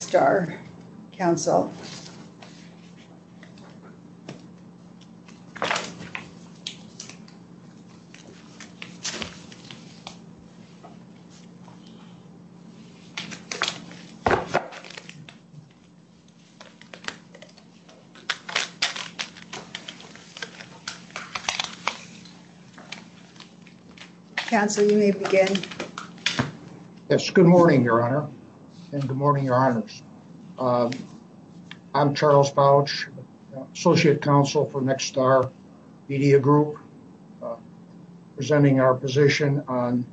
Nexstar Council. Council, you may begin. Yes, good morning, Your Honor. And good morning, Your Honors. I'm Charles Bouch, Associate Counsel for Nexstar Media Group, presenting our position on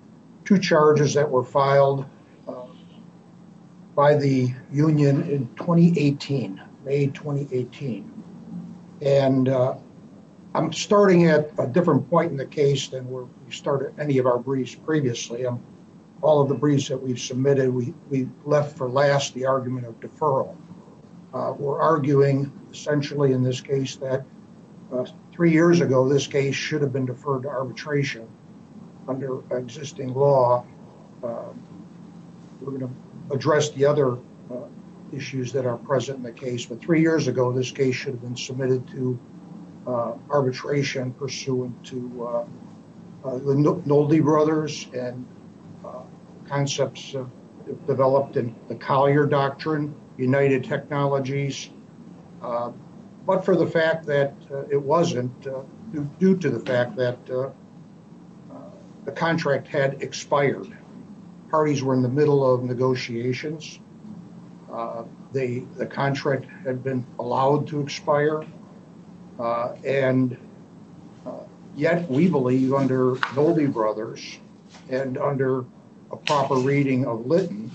two charges that were filed by the union in 2018, May 2018. And I'm starting at a different point in the case than where we started any of our briefs previously. All of the briefs that we've submitted, we left for last the argument of deferral. We're arguing, essentially in this case, that three years ago, this case should have been deferred to arbitration under existing law. We're going to address the other issues that are present in the case. But three years ago, this case should have been submitted to the Nolde brothers and concepts developed in the Collier Doctrine, United Technologies, but for the fact that it wasn't due to the fact that the contract had expired. Parties were in the middle of negotiations. The contract had been allowed to expire. And yet we believe under Nolde brothers and under a proper reading of Lytton,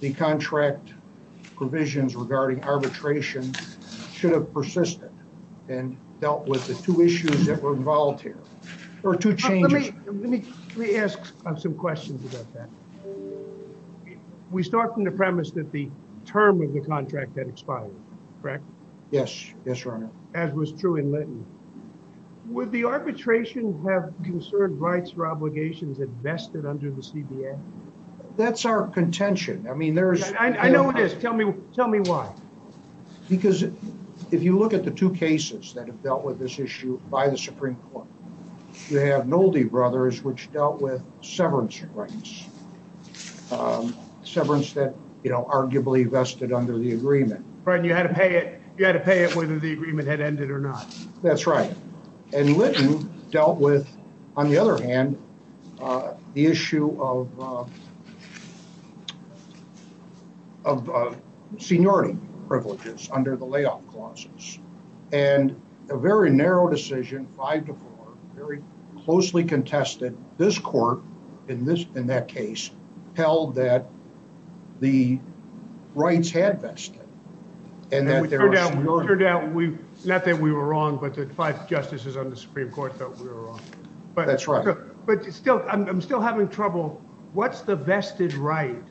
the contract provisions regarding arbitration should have persisted and dealt with the two issues that were involved here or two changes. Let me ask some questions about that. We start from the premise that the term of the contract had expired, correct? Yes. Yes, Your Honor. As was true in Lytton. Would the arbitration have conserved rights or obligations vested under the CBA? That's our contention. I mean, there's... I know it is. Tell me why. Because if you look at the two cases that have dealt with this issue by the Supreme Court, you have Nolde brothers which dealt with severance rights. Severance that, you know, arguably vested under the agreement. You had to pay it whether the agreement had ended or not. That's right. And Lytton dealt with, on the other hand, the issue of of seniority privileges under the layoff clauses. And a very narrow decision, five to four, very closely contested. This court in that case held that the rights had vested. And that there was seniority. It turned out, not that we were wrong, but the five justices on the Supreme Court thought we were wrong. That's right. But still, I'm still having trouble. What's the vested right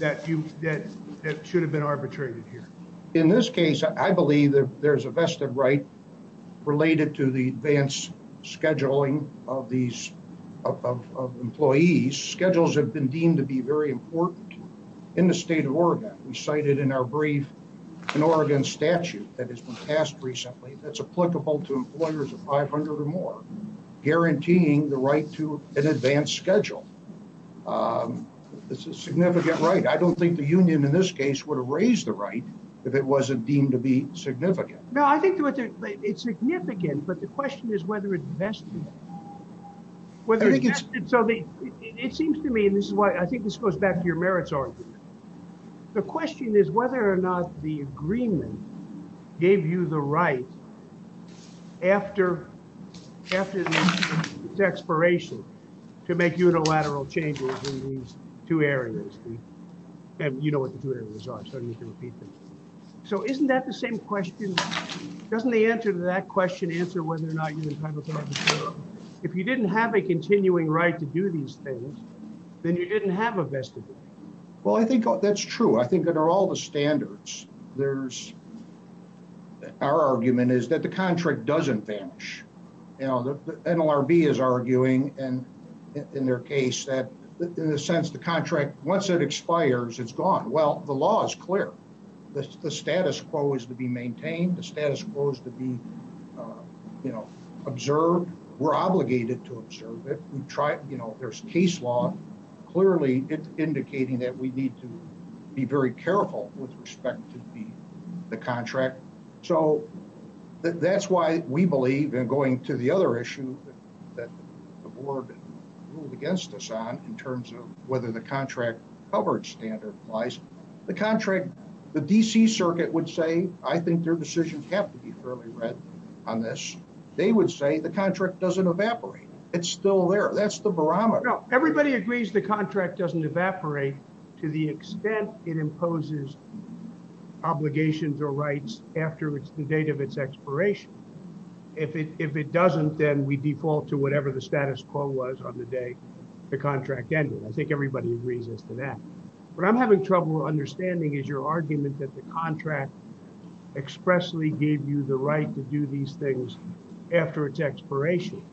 that should have been arbitrated here? In this case, I believe there's a vested right related to the advance scheduling of these employees. Schedules have been deemed to be very important in the state of Oregon. We cited in our brief an Oregon statute that has been passed recently that's applicable to employers of 500 or more, guaranteeing the right to an advance schedule. It's a significant right. I don't think the union in this case would have raised the right if it wasn't deemed to be significant. No, I think it's significant, but the question is whether it vested. It seems to me, and I think this goes back to your merits argument, the question is whether or not the agreement gave you the right after the expiration to make unilateral changes in these two areas. And you know what the two areas are, so you can repeat them. So isn't that the same question? Doesn't the answer to that question answer whether or not if you didn't have a continuing right to do these things, then you didn't have a vested right. Well, I think that's true. I think under all the standards, there's our argument is that the contract doesn't vanish. NLRB is arguing and in their case that in a sense the contract, once it expires, it's gone. Well, the law is clear. The status quo is to be maintained. The status quo is to be observed. We're obligated to observe it. There's case law. Clearly, it's indicating that we need to be very careful with respect to the contract. So that's why we believe, and going to the other issue that the board ruled against us on in terms of whether the contract covered standard applies, the contract, the D.C. circuit would say, I think their decisions have to be fairly read on this. They would say the contract doesn't evaporate. It's still there. That's the barometer. Everybody agrees the contract doesn't evaporate to the extent it imposes obligations or rights after the date of its expiration. If it doesn't, then we default to whatever the status quo was on the day the contract ended. I think everybody agrees as to that. What I'm having trouble understanding is your argument that the contract expressly gave you the right to do these things after its expiration.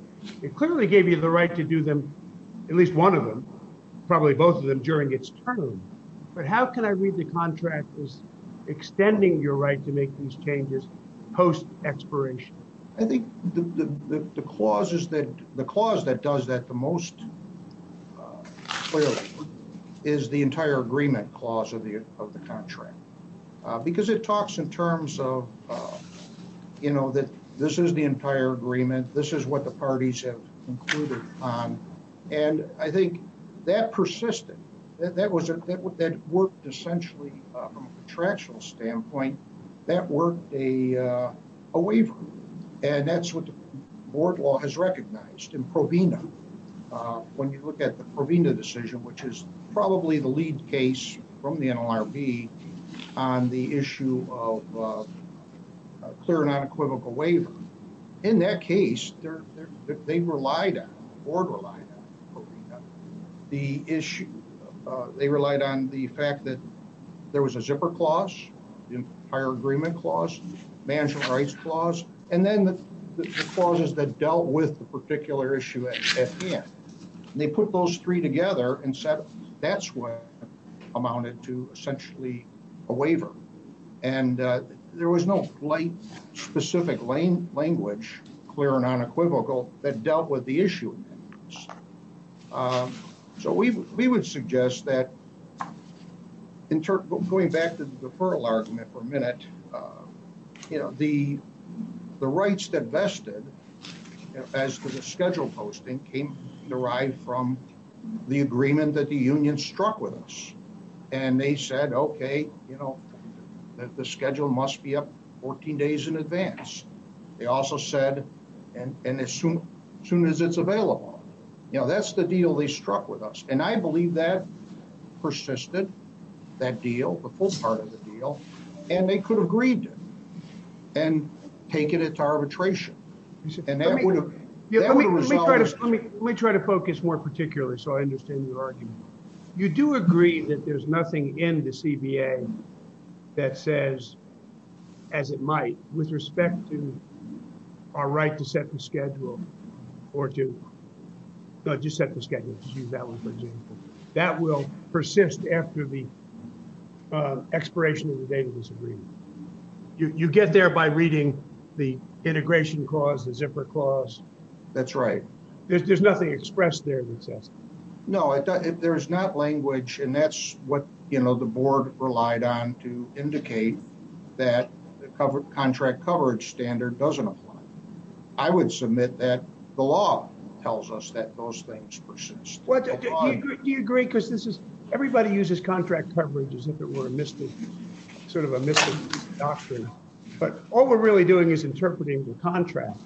It clearly gave you the right to do them, at least one of them, probably both of them, during its term. But how can I read the contract as extending your right to make these changes post-expiration? I think the clause that does that the most clearly is the entire agreement clause of the contract. Because it talks in terms of that this is the entire agreement. This is what the parties have concluded on. I think that persisted. That worked essentially from a contractual standpoint. That worked a waiver. That's what the board law has recognized in Provena. When you look at the Provena decision, which is probably the lead case from the NLRB on the issue of clear and unequivocal waiver, in that case, they relied on, the board relied on, the issue, they relied on the fact that there was a zipper clause, the entire agreement clause, management rights clause, and then the clauses that dealt with the particular issue at hand. They put those three together and said that's what amounted to essentially a waiver. There was no specific language, clear and unequivocal, that dealt with the issue. We would suggest that going back to the deferral argument for a minute, the rights that vested as to the schedule posting came derived from the agreement that the union struck with us. They said, okay, the schedule must be up 14 days in advance. They also said, as soon as it's available. That's the deal they struck with us. I believe that persisted, that deal, the full part of the deal, and they could have agreed to it and taken it to arbitration. Let me try to focus more particularly so I understand your argument. You do agree that there's nothing in the CBA that says, as it might, with respect to our right to set the schedule or to, just set the schedule, that will persist after the expiration of the date of this agreement. You get there by reading the integration clause, the zipper clause. That's right. There's nothing expressed there that says. No, there's not language, and that's what the board relied on to indicate that the contract coverage standard doesn't apply. I would submit that the law tells us that those things persist. Do you agree? Everybody uses contract coverage as if it were a mystic, sort of a mystic doctrine. But all we're really doing is interpreting the contract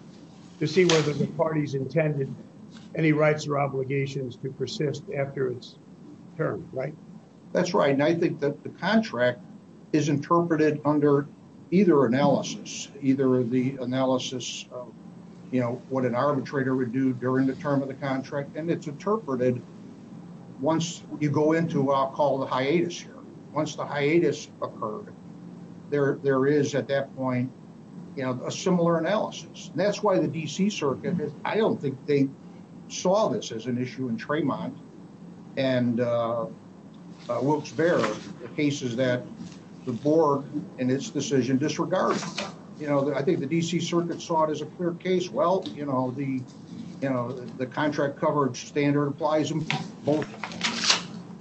to see whether the party's intended any rights or obligations to persist after its term, right? That's right, and I think that the contract is interpreted under either analysis, either the analysis of, you know, what an arbitrator would do during the term of the contract, and it's interpreted once you go into what I'll call the hiatus here. Once the hiatus occurred, there is, at that point, you know, a similar analysis. That's why the D.C. Circuit, I don't think they saw this as an issue in Tremont and Wilkes-Barre, the cases that the board in its decision disregarded. You know, I think the D.C. Circuit saw it as a clear case. Well, you know, the contract coverage standard applies both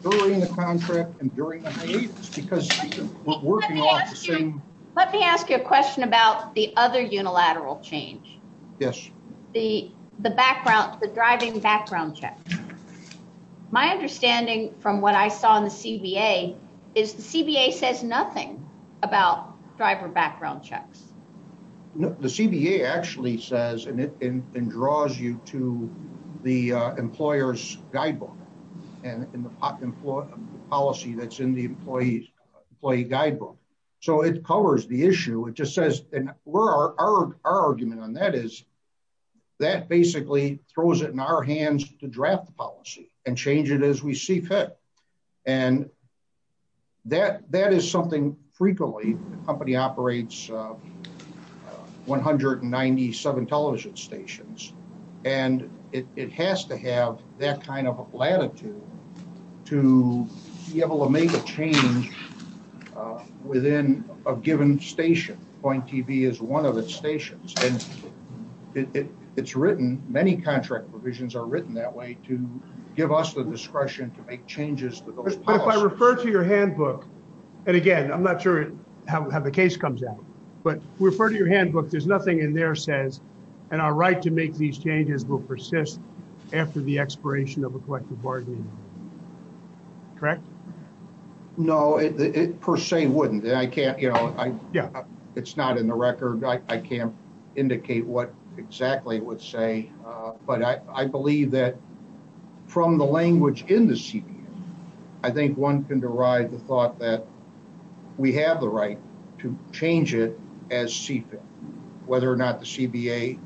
during the contract and during the hiatus because we're working off the same... Let me ask you a question about the other unilateral change. Yes. The background, the driving background check. My understanding from what I saw in the CBA is the CBA says nothing about driver background checks. No, the CBA actually says, and it draws you to the employer's guidebook and the policy that's in the employee's guidebook. So it covers the issue. It just says... Our argument on that is that basically throws it in our hands to draft the policy and change it as we see fit. And that is something frequently... The company operates 197 television stations and it has to have that kind of latitude to be able to make a change within a given station. Point TV is one of its stations. And it's written... Many contract provisions are written that way to give us the discretion to make changes to those policies. But if I refer to your handbook... And again, I'm not sure how the case comes out. But refer to your handbook. There's nothing in there that says that our right to make these changes will persist after the expiration of a collective bargaining. Correct? No, it per se wouldn't. I can't... It's not in the record. I can't indicate what exactly it would say. But I believe that from the language in the CBA, I think one can derive the thought that we have the right to change it as see fit, whether or not the CBA...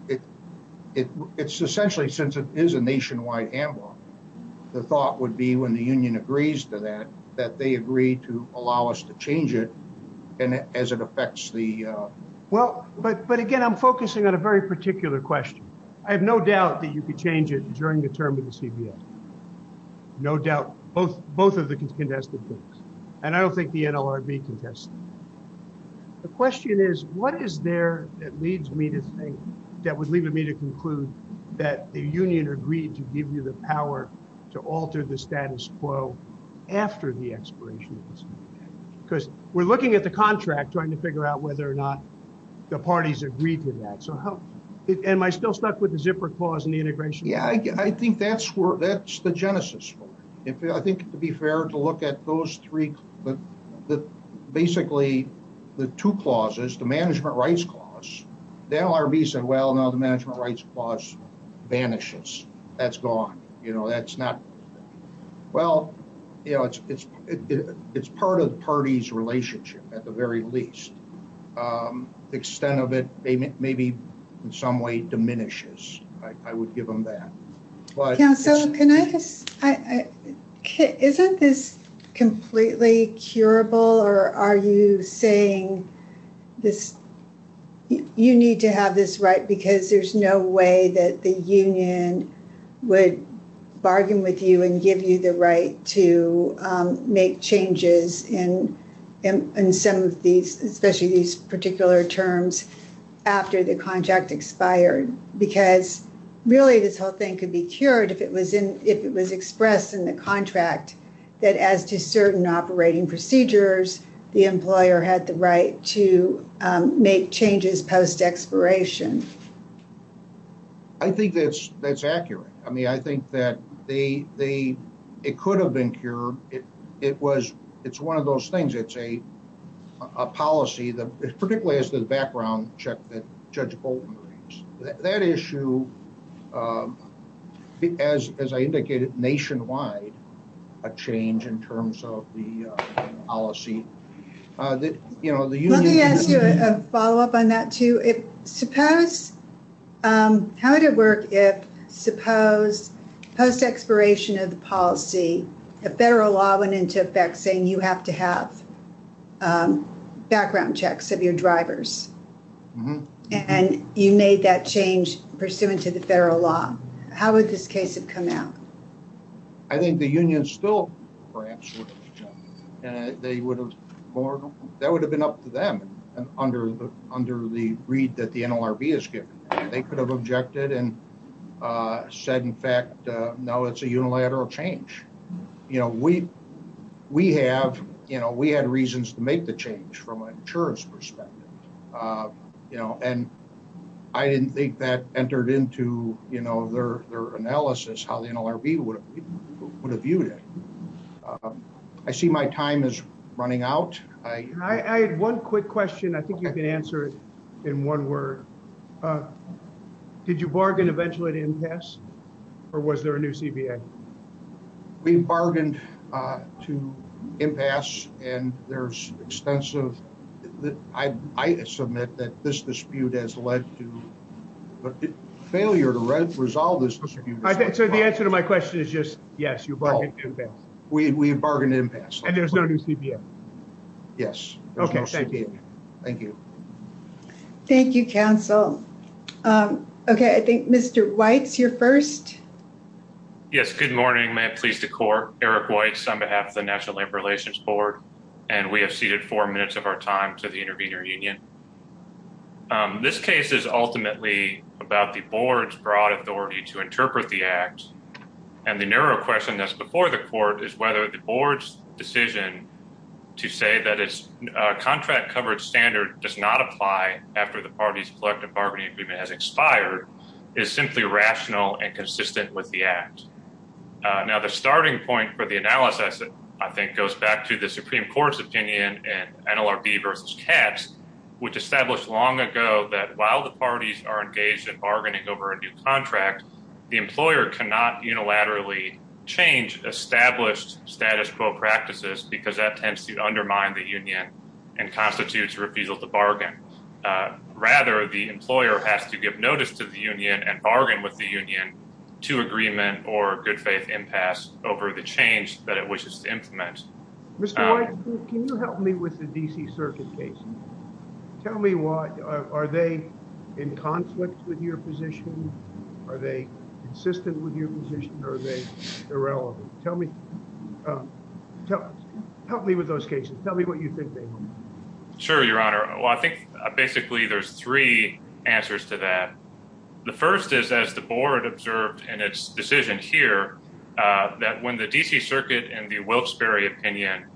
It's essentially, since it is a nationwide handbook, the thought would be when the union agrees to that, that they agree to allow us to change it as it affects the... Well, but again, I'm focusing on a very particular question. I have no doubt that you could change it during the term of the CBA. No doubt. Both of the contested things. And I don't think the NLRB contested. The question is, what is there that leads me to think, that would lead me to conclude that the union agreed to give you the power to alter the status quo after the expiration of the CBA? Because we're looking at the contract, trying to figure out whether or not the parties agreed to that. Am I still stuck with the zipper clause in the integration? Yeah, I think that's the genesis for it. I think it would be fair to look at those three... Basically, the two clauses, the management rights clause, the NLRB said, well, now the management rights clause vanishes. That's gone. Well, it's part of the party's relationship at the very least. The extent of it maybe in some way diminishes. I would give them that. Councilor, can I just... Isn't this completely curable? Or are you saying this, you need to have this right because there's no way that the union would bargain with you and give you the right to make changes in some of these, especially these particular terms after the contract expired? Because really this whole thing could be cured if it was expressed in the contract that as to certain operating procedures, the employer had the right to make changes post expiration. I think that's accurate. I think that it could have been cured. It's one of those things. It's a policy, particularly as to the background check that Judge Bolton brings. That issue, as I indicated, nationwide, a change in terms of the policy. Let me ask you a follow up on that too. If suppose, how would it work if suppose post expiration of the policy, a federal law went into effect saying you have to have background checks of your drivers? And you made that change pursuant to the federal law. How would this case have come out? I think the union still perhaps would have jumped. That would have been up to them under the read that the NLRB has given. They could have objected and said, in fact, no, it's a unilateral change. We had reasons to make the change from an insurance perspective. And I didn't think that entered into their analysis, how the NLRB would have viewed it. I see my time is running out. I had one quick question. I think you can answer it in one word. Did you bargain eventually to impasse or was there a new CBA? We bargained to impasse and there's extensive... I submit that this dispute has led to failure to resolve this dispute. So the answer to my question is just, yes, you bargained to impasse. We bargained to impasse. And there's no new CBA. Yes, there's no CBA. Okay, thank you. Thank you. Thank you, council. Okay, I think Mr. Weitz, you're first. Yes, good morning. May it please the court, Eric Weitz on behalf of the National Labor Relations Board. And we have ceded four minutes of our time to the intervener union. This case is ultimately about the board's broad authority to interpret the act. And the narrow question that's before the court is whether the board's decision to say that it's a contract coverage standard does not apply after the party's collective bargaining agreement has expired is simply rational and consistent with the act. Now, the starting point for the analysis, I think, goes back to the Supreme Court's opinion in NLRB versus Katz, which established long ago that while the parties are engaged in bargaining over a new contract, the employer cannot unilaterally change established status quo practices because that tends to undermine the union and constitutes refusal to bargain. Rather, the employer has to give notice to the union and bargain with the union to agreement or good-faith impasse over the change that it wishes to implement. Mr. Weitz, can you help me with the D.C. Circuit case? Tell me what... Are they in conflict with your position? Are they consistent with your position? Are they irrelevant? Tell me... Help me with those cases. Tell me what you think they are. Sure, Your Honor. Well, I think, basically, there's three answers to that. The first is, as the Board observed in its decision here, that when the D.C. Circuit in the Wilkes-Barre opinion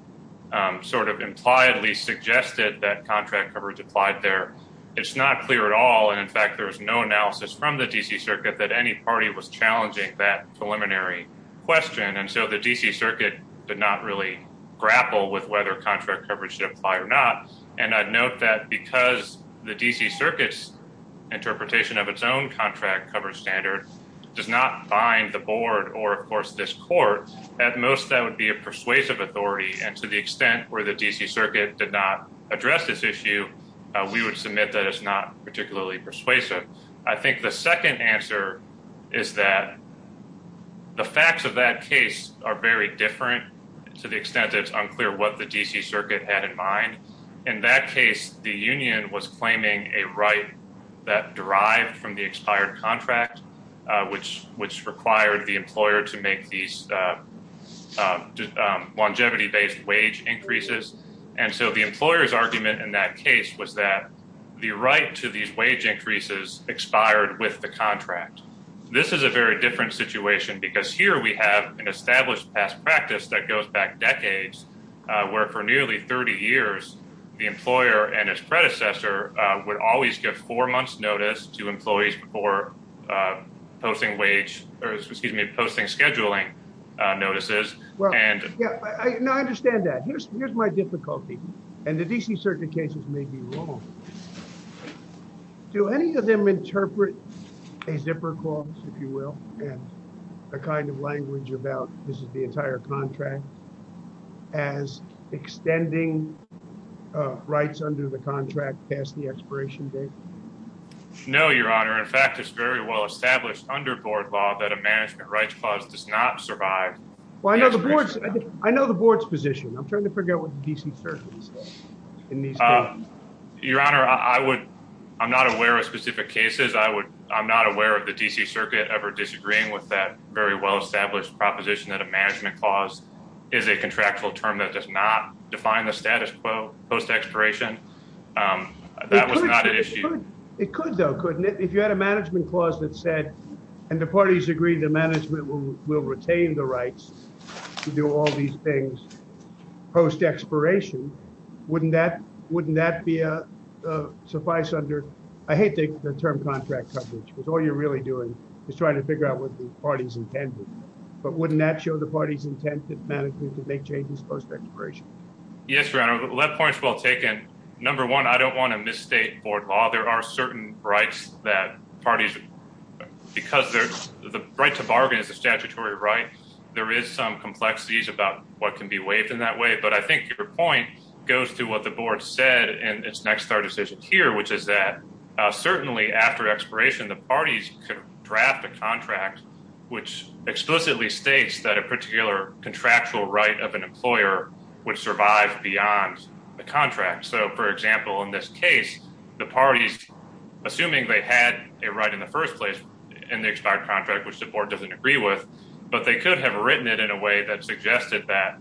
sort of impliedly suggested that contract coverage applied there, it's not clear at all. And, in fact, there's no analysis from the D.C. Circuit that any party was challenging that preliminary question. And so the D.C. Circuit did not really grapple with whether contract coverage should apply or not. And I'd note that because the D.C. Circuit's interpretation of its own contract coverage standard does not bind the Board or, of course, this court, at most, that would be a persuasive authority. And to the extent where the D.C. Circuit did not address this issue, we would submit that it's not particularly persuasive. I think the second answer is that the facts of that case are very different to the extent that it's unclear what the D.C. Circuit had in mind. In that case, the union was claiming a right that derived from the expired contract, which required the employer to make these longevity-based wage increases. And so the employer's argument in that case was that the right to these wage increases expired with the contract. This is a very different situation because here we have an established past practice that goes back decades, where for nearly 30 years, the employer and his predecessor would always give four-months notice to employees before posting scheduling notices. Now, I understand that. Here's my difficulty, and the D.C. Circuit cases may be wrong. Do any of them interpret a zipper clause, if you will, and a kind of language about this is the entire contract as extending rights under the contract past the expiration date? No, Your Honor. In fact, it's very well established under board law that a management rights clause does not survive... Well, I know the board's position. I'm trying to figure out what the D.C. Circuit is saying. Your Honor, I'm not aware of specific cases. I'm not aware of the D.C. Circuit ever disagreeing with that very well-established proposition that a management clause is a contractual term that does not define the status quo post-expiration. That was not an issue. It could, though, couldn't it? If you had a management clause that said, and the parties agreed that management will retain the rights to do all these things post-expiration, wouldn't that be a suffice under... I hate the term contract coverage, because all you're really doing is trying to figure out what the party's intended. But wouldn't that show the party's intent to make changes post-expiration? Yes, Your Honor. That point's well taken. Number one, I don't want to misstate board law. There are certain rights that parties... Because the right to bargain is a statutory right, there is some complexities about what can be waived in that way. But I think your point goes to what the board said in its next-door decision here, which is that certainly after expiration, the parties could draft a contract which explicitly states that a particular contractual right of an employer would survive beyond the contract. So, for example, in this case, the parties, assuming they had a right in the first place in the expired contract, which the board doesn't agree with, but they could have written it in a way that suggested that,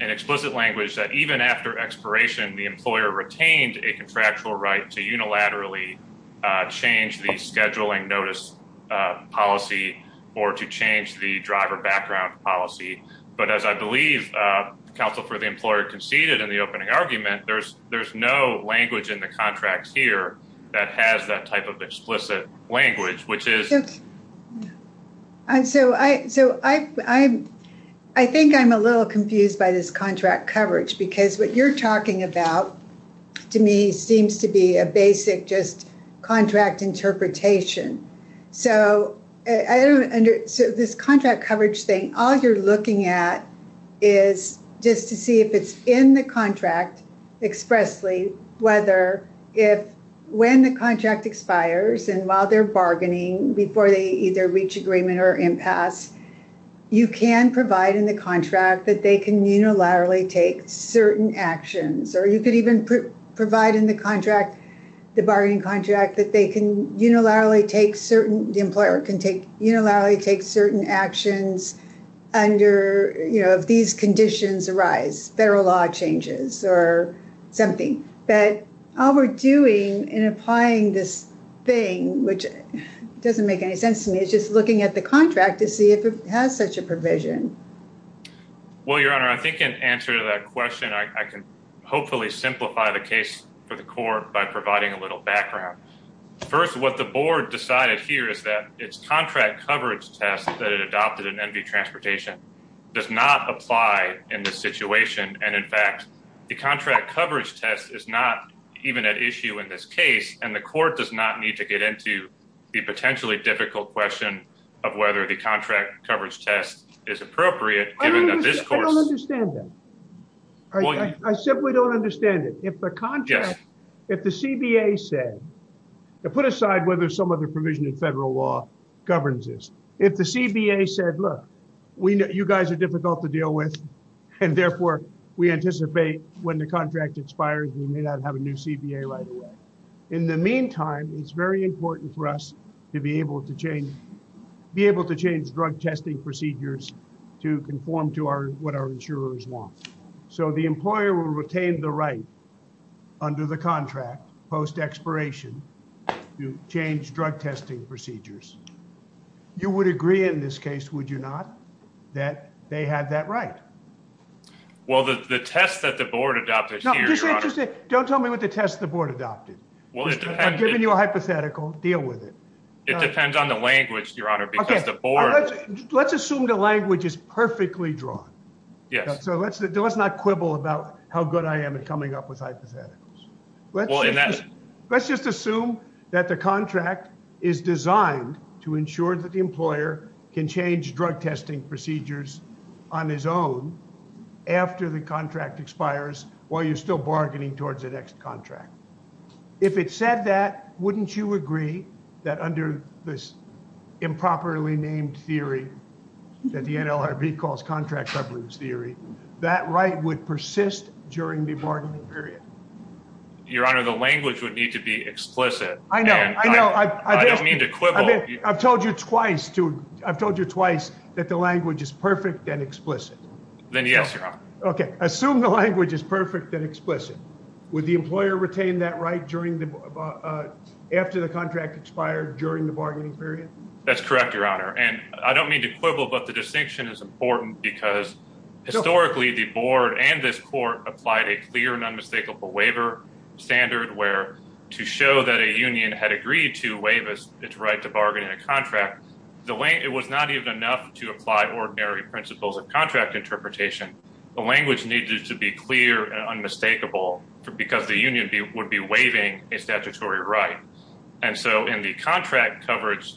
in explicit language, that even after expiration, the employer retained a contractual right to unilaterally change the scheduling notice policy or to change the driver background policy. But as I believe Counsel for the Employer conceded in the opening argument, there's no language in the contracts here that has that type of explicit language, which is... I think I'm a little confused by this contract coverage because what you're talking about, to me, seems to be a basic just contract interpretation. So I don't under... So this contract coverage thing, all you're looking at is just to see if it's in the contract expressly, whether if... When the contract expires and while they're bargaining before they either reach agreement or impasse, you can provide in the contract that they can unilaterally take certain actions, or you could even provide in the contract, the bargaining contract, that they can unilaterally take certain... The employer can unilaterally take certain actions under, you know, if these conditions arise, federal law changes or something. But all we're doing in applying this thing, which doesn't make any sense to me, is just looking at the contract to see if it has such a provision. Well, Your Honour, I think in answer to that question, I can hopefully simplify the case for the court by providing a little background. First, what the board decided here is that its contract coverage test that it adopted in NV Transportation does not apply in this situation. And, in fact, the contract coverage test is not even at issue in this case, and the court does not need to get into the potentially difficult question of whether the contract coverage test is appropriate, given that this court... I simply don't understand it. If the contract... If the CBA said... Put aside whether some other provision in federal law governs this. If the CBA said, look, you guys are difficult to deal with, and therefore we anticipate when the contract expires we may not have a new CBA right away. In the meantime, it's very important for us to be able to change drug testing procedures to conform to what our insurers want. So the employer will retain the right under the contract post-expiration to change drug testing procedures. You would agree in this case, would you not, that they had that right? Well, the test that the board adopted here... No, just say... Don't tell me what the test the board adopted. I'm giving you a hypothetical. Deal with it. It depends on the language, Your Honor, because the board... Let's assume the language is perfectly drawn. So let's not quibble about how good I am at coming up with hypotheticals. Let's just assume that the contract is designed to ensure that the employer can change drug testing procedures on his own after the contract expires while you're still bargaining towards the next contract. If it said that, wouldn't you agree that under this improperly named theory that the NLRB calls contract coverage theory, that right would persist during the bargaining period? Your Honor, the language would need to be explicit. I know, I know. I don't mean to quibble. I've told you twice that the language is perfect and explicit. Then yes, Your Honor. Okay, assume the language is perfect and explicit. Would the employer retain that right after the contract expired during the bargaining period? That's correct, Your Honor. I don't mean to quibble, but the distinction is important because historically the board and this court applied a clear and unmistakable waiver standard where to show that a union had agreed to waive its right to bargain in a contract, it was not even enough to apply ordinary principles of contract interpretation. The language needed to be clear and unmistakable because the union would be waiving a statutory right. And so in the contract coverage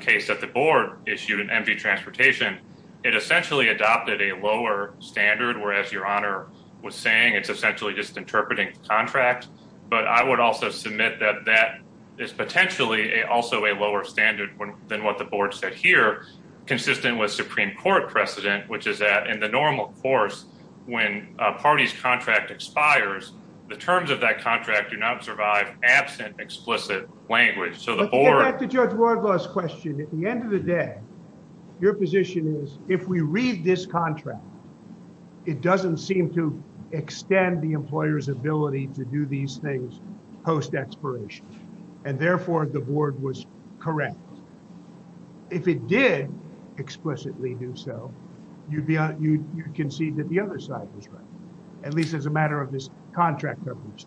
case that the board issued in MV Transportation, it essentially adopted a lower standard where, as Your Honor was saying, it's essentially just interpreting the contract. But I would also submit that that is potentially also a lower standard than what the board said here, consistent with Supreme Court precedent, which is that in the normal course when a party's contract expires, the terms of that contract do not survive absent explicit language. So the board... To get back to Judge Wardlaw's question, at the end of the day, your position is, if we read this contract, it doesn't seem to extend the employer's ability to do these things post-expiration, and therefore the board was correct. If it did explicitly do so, you'd concede that the other side was right, at least as a matter of this contract coverage.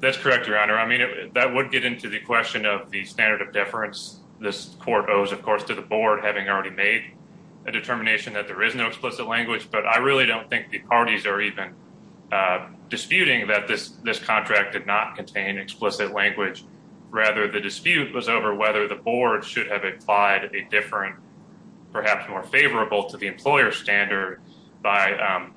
That's correct, Your Honor. I mean, that would get into the question of the standard of deference this court owes, of course, to the board having already made a determination that there is no explicit language. But I really don't think the parties are even disputing that this contract did not contain explicit language. Rather, the dispute was over whether the board should have applied a different, perhaps more favorable to the employer's standard by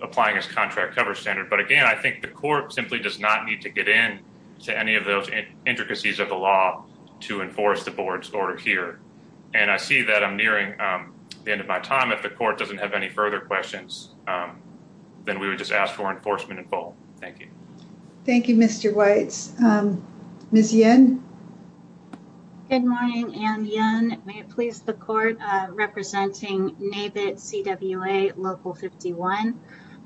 applying its contract cover standard. But again, I think the court simply does not need to get in to any of those intricacies of the law to enforce the board's order here. And I see that I'm nearing the end of my time. If the court doesn't have any further questions, then we would just ask for enforcement in full. Thank you. Thank you, Mr. Weitz. Ms. Yen? Good morning, Anne Yen. May it please the court, representing NABIT CWA Local 51.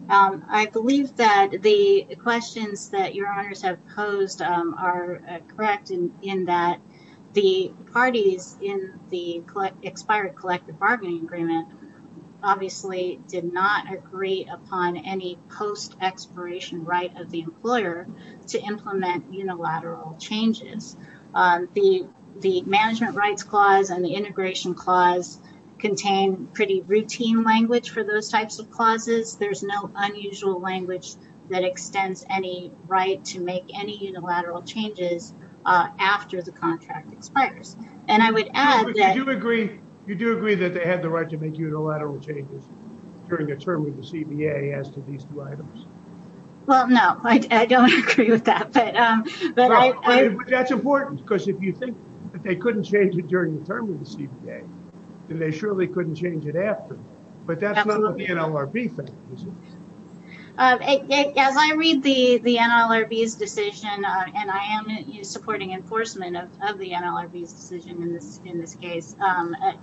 I believe that the questions that Your Honors have posed are correct in that the parties in the expired collective bargaining agreement obviously did not agree upon any post-expiration right of the employer to implement unilateral changes. The Management Rights Clause and the Integration Clause contain pretty routine language for those types of clauses. There's no unusual language that extends any right to make any unilateral changes after the contract expires. And I would add that... But you do agree that they had the right to make unilateral changes during their term with the CBA as to these two items? Well, no. I don't agree with that. But that's important, because if you think that they couldn't change it during the term of the CBA, then they surely couldn't change it after. But that's not the NLRB thing, is it? As I read the NLRB's decision, and I am supporting enforcement of the NLRB's decision in this case,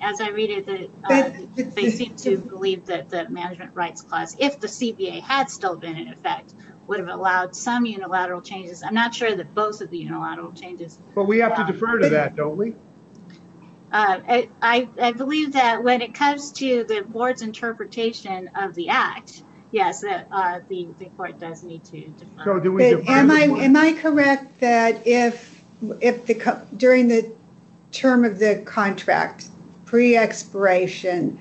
as I read it, they seem to believe that the Management Rights Clause, if the CBA had still been in effect, would have allowed some unilateral changes. I'm not sure that both of the unilateral changes... But we have to defer to that, don't we? I believe that when it comes to the Board's interpretation of the Act, yes, the Court does need to defer. Am I correct that if during the term of the contract, pre-expiration,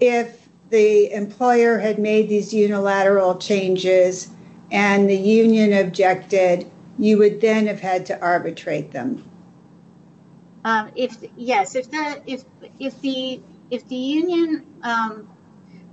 if the employer had made these unilateral changes and the union objected, you would then have had to arbitrate them? Yes. If the union...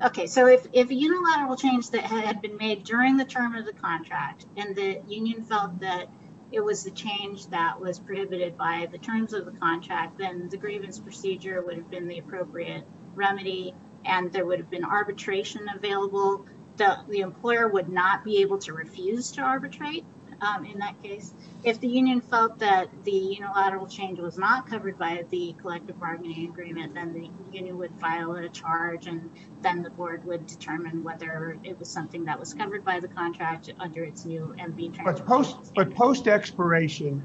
Okay, so if a unilateral change that had been made during the term of the contract and the union felt that it was the change that was prohibited by the terms of the contract, then the grievance procedure would have been the appropriate remedy and there would have been arbitration available. The employer would not be able to refuse to arbitrate in that case. If the union felt that the unilateral change was not covered by the collective bargaining agreement, then the union would file a charge and then the Board would determine whether it was something that was covered by the contract under its new... But post-expiration,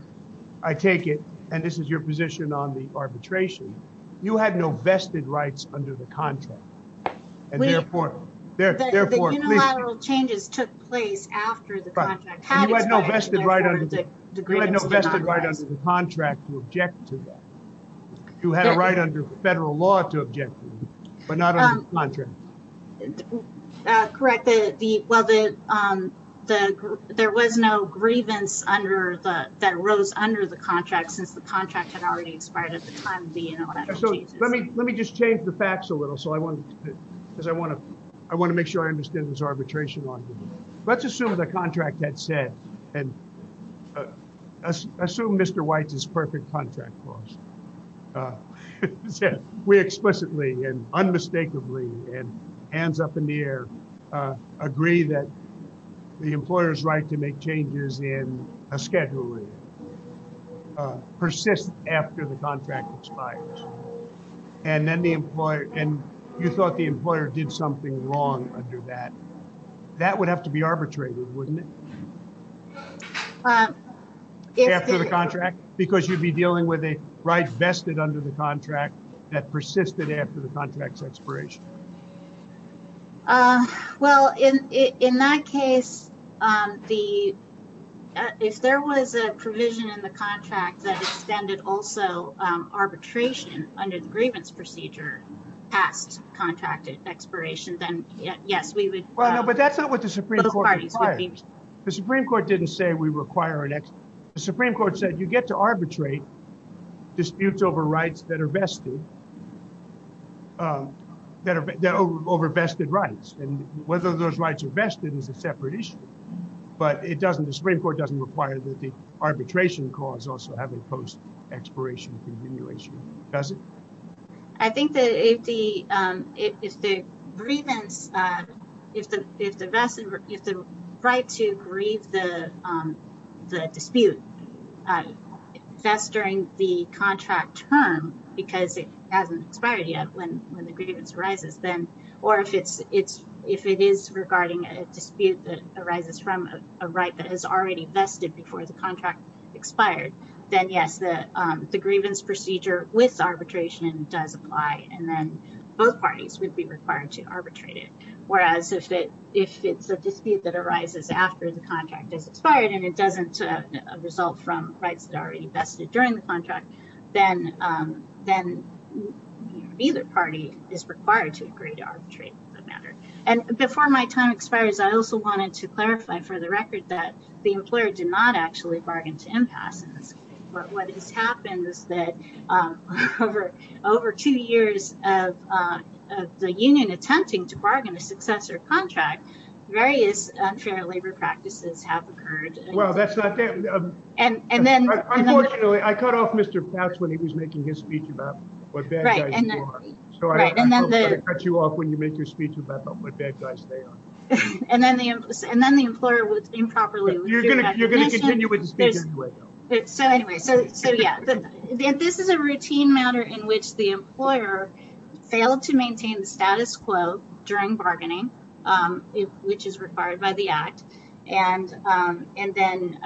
I take it, and this is your position on the arbitration, you had no vested rights under the contract. The unilateral changes took place after the contract had expired. You had no vested right under the contract to object to that. You had a right under federal law to object to that, but not under the contract. Correct. There was no grievance that the contract had already expired at the time of the unilateral changes. Let me just change the facts a little, because I want to make sure I understand this arbitration argument. Let's assume the contract had said and assume Mr. White's perfect contract clause. We explicitly and unmistakably and hands up in the air agree that the employer's right to make changes in a schedule persists after the contract expires. And you thought the employer did something wrong under that. That would have to be arbitrated, wouldn't it? After the contract? Because you'd be dealing with a right vested under the contract that persisted after the contract's expiration. Well, in that case, if there was a provision in the contract that extended also arbitration under the grievance procedure past contract expiration, then yes, we would. But that's not what the Supreme Court required. The Supreme Court didn't say we require an expiration. The Supreme Court said you get to arbitrate disputes over rights that are vested, that are over vested rights. And whether those rights are vested is a separate issue. But the Supreme Court doesn't require that the arbitration clause also have a post-expiration continuation, does it? I think that if the grievance if the right to grieve the dispute vests during the contract term because it hasn't expired yet when the grievance arises, or if it is regarding a dispute that arises from a right that has already vested before the contract expired, then yes, the grievance procedure with arbitration does apply, and then both parties would be required to arbitrate it. Whereas if it's a dispute that arises after the contract has expired and it doesn't result from rights that are already vested during the contract, then either party is required to agree to arbitrate the matter. And before my time expires, I also wanted to clarify for the record that the employer did not actually bargain to impasses. But what has happened is that over two years of the union attempting to bargain a successor contract, various unfair labor practices have occurred. Well, that's not that. Unfortunately, I cut off Mr. Pats when he was making his speech about what bad guys you are. So I don't want to cut you off when you make your speech about what bad guys they are. And then the employer would improperly You're going to continue with the speech anyway, though. So anyway, this is a routine matter in which the employer failed to maintain the status quo during bargaining, which is required by the act and then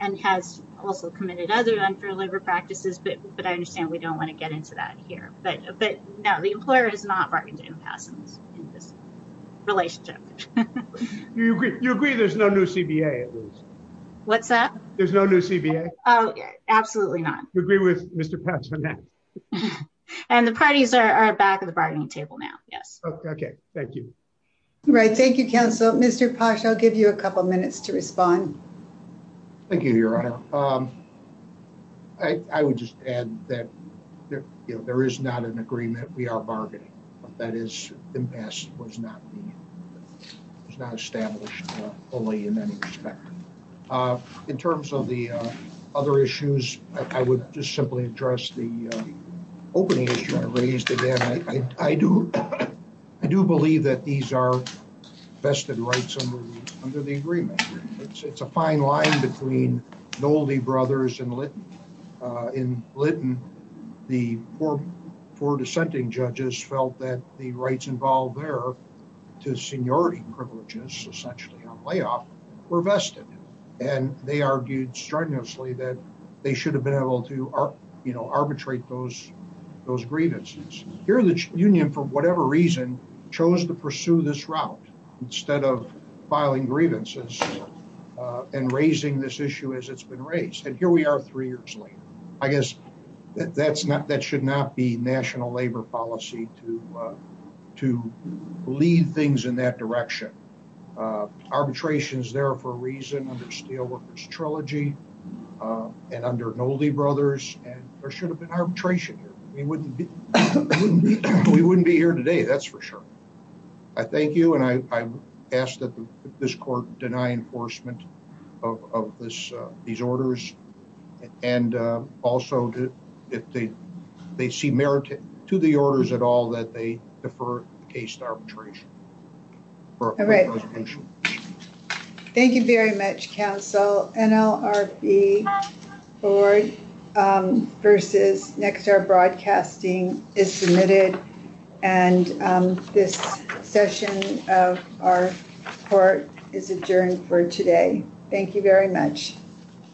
and has also committed other unfair labor practices. But I understand we don't want to get into that here. But no, the employer is not bargaining impasses in this relationship. You agree there's no new CBA? What's that? There's no new CBA? Absolutely not. You agree with Mr. Pats on that? And the parties are back at the bargaining table now. Yes. Okay. Thank you. Right. Thank you, counsel. Mr. Pash, I'll give you a couple of minutes to respond. Thank you, Your Honor. I would just add that there is not an agreement. We are bargaining. That is impasse was not established fully in any respect. In terms of the other issues, I would just simply address the opening issue I raised. I do believe that these are vested rights under the agreement. It's a fine line between Nolde Brothers and Lytton. In Lytton, the four dissenting judges felt that the rights involved there to seniority privileges, essentially on layoff, were vested. And they argued strenuously that they should have been able to arbitrate those grievances. Here, the union, for whatever reason, chose to pursue this route instead of filing grievances and raising this issue as it's been raised. And here we are three years later. I guess that should not be national labor policy to lead things in that direction. Arbitration is there for a reason under Steelworkers Trilogy and under Nolde Brothers. There should have been arbitration here. We wouldn't be here today, that's for sure. I thank you and I ask that this court deny enforcement of these orders and also if they see merit to the orders at all, that they defer the case to arbitration. All right. Thank you very much, counsel. NLRB board versus Nexstar Broadcasting is submitted and this session of our court is adjourned for today. Thank you very much.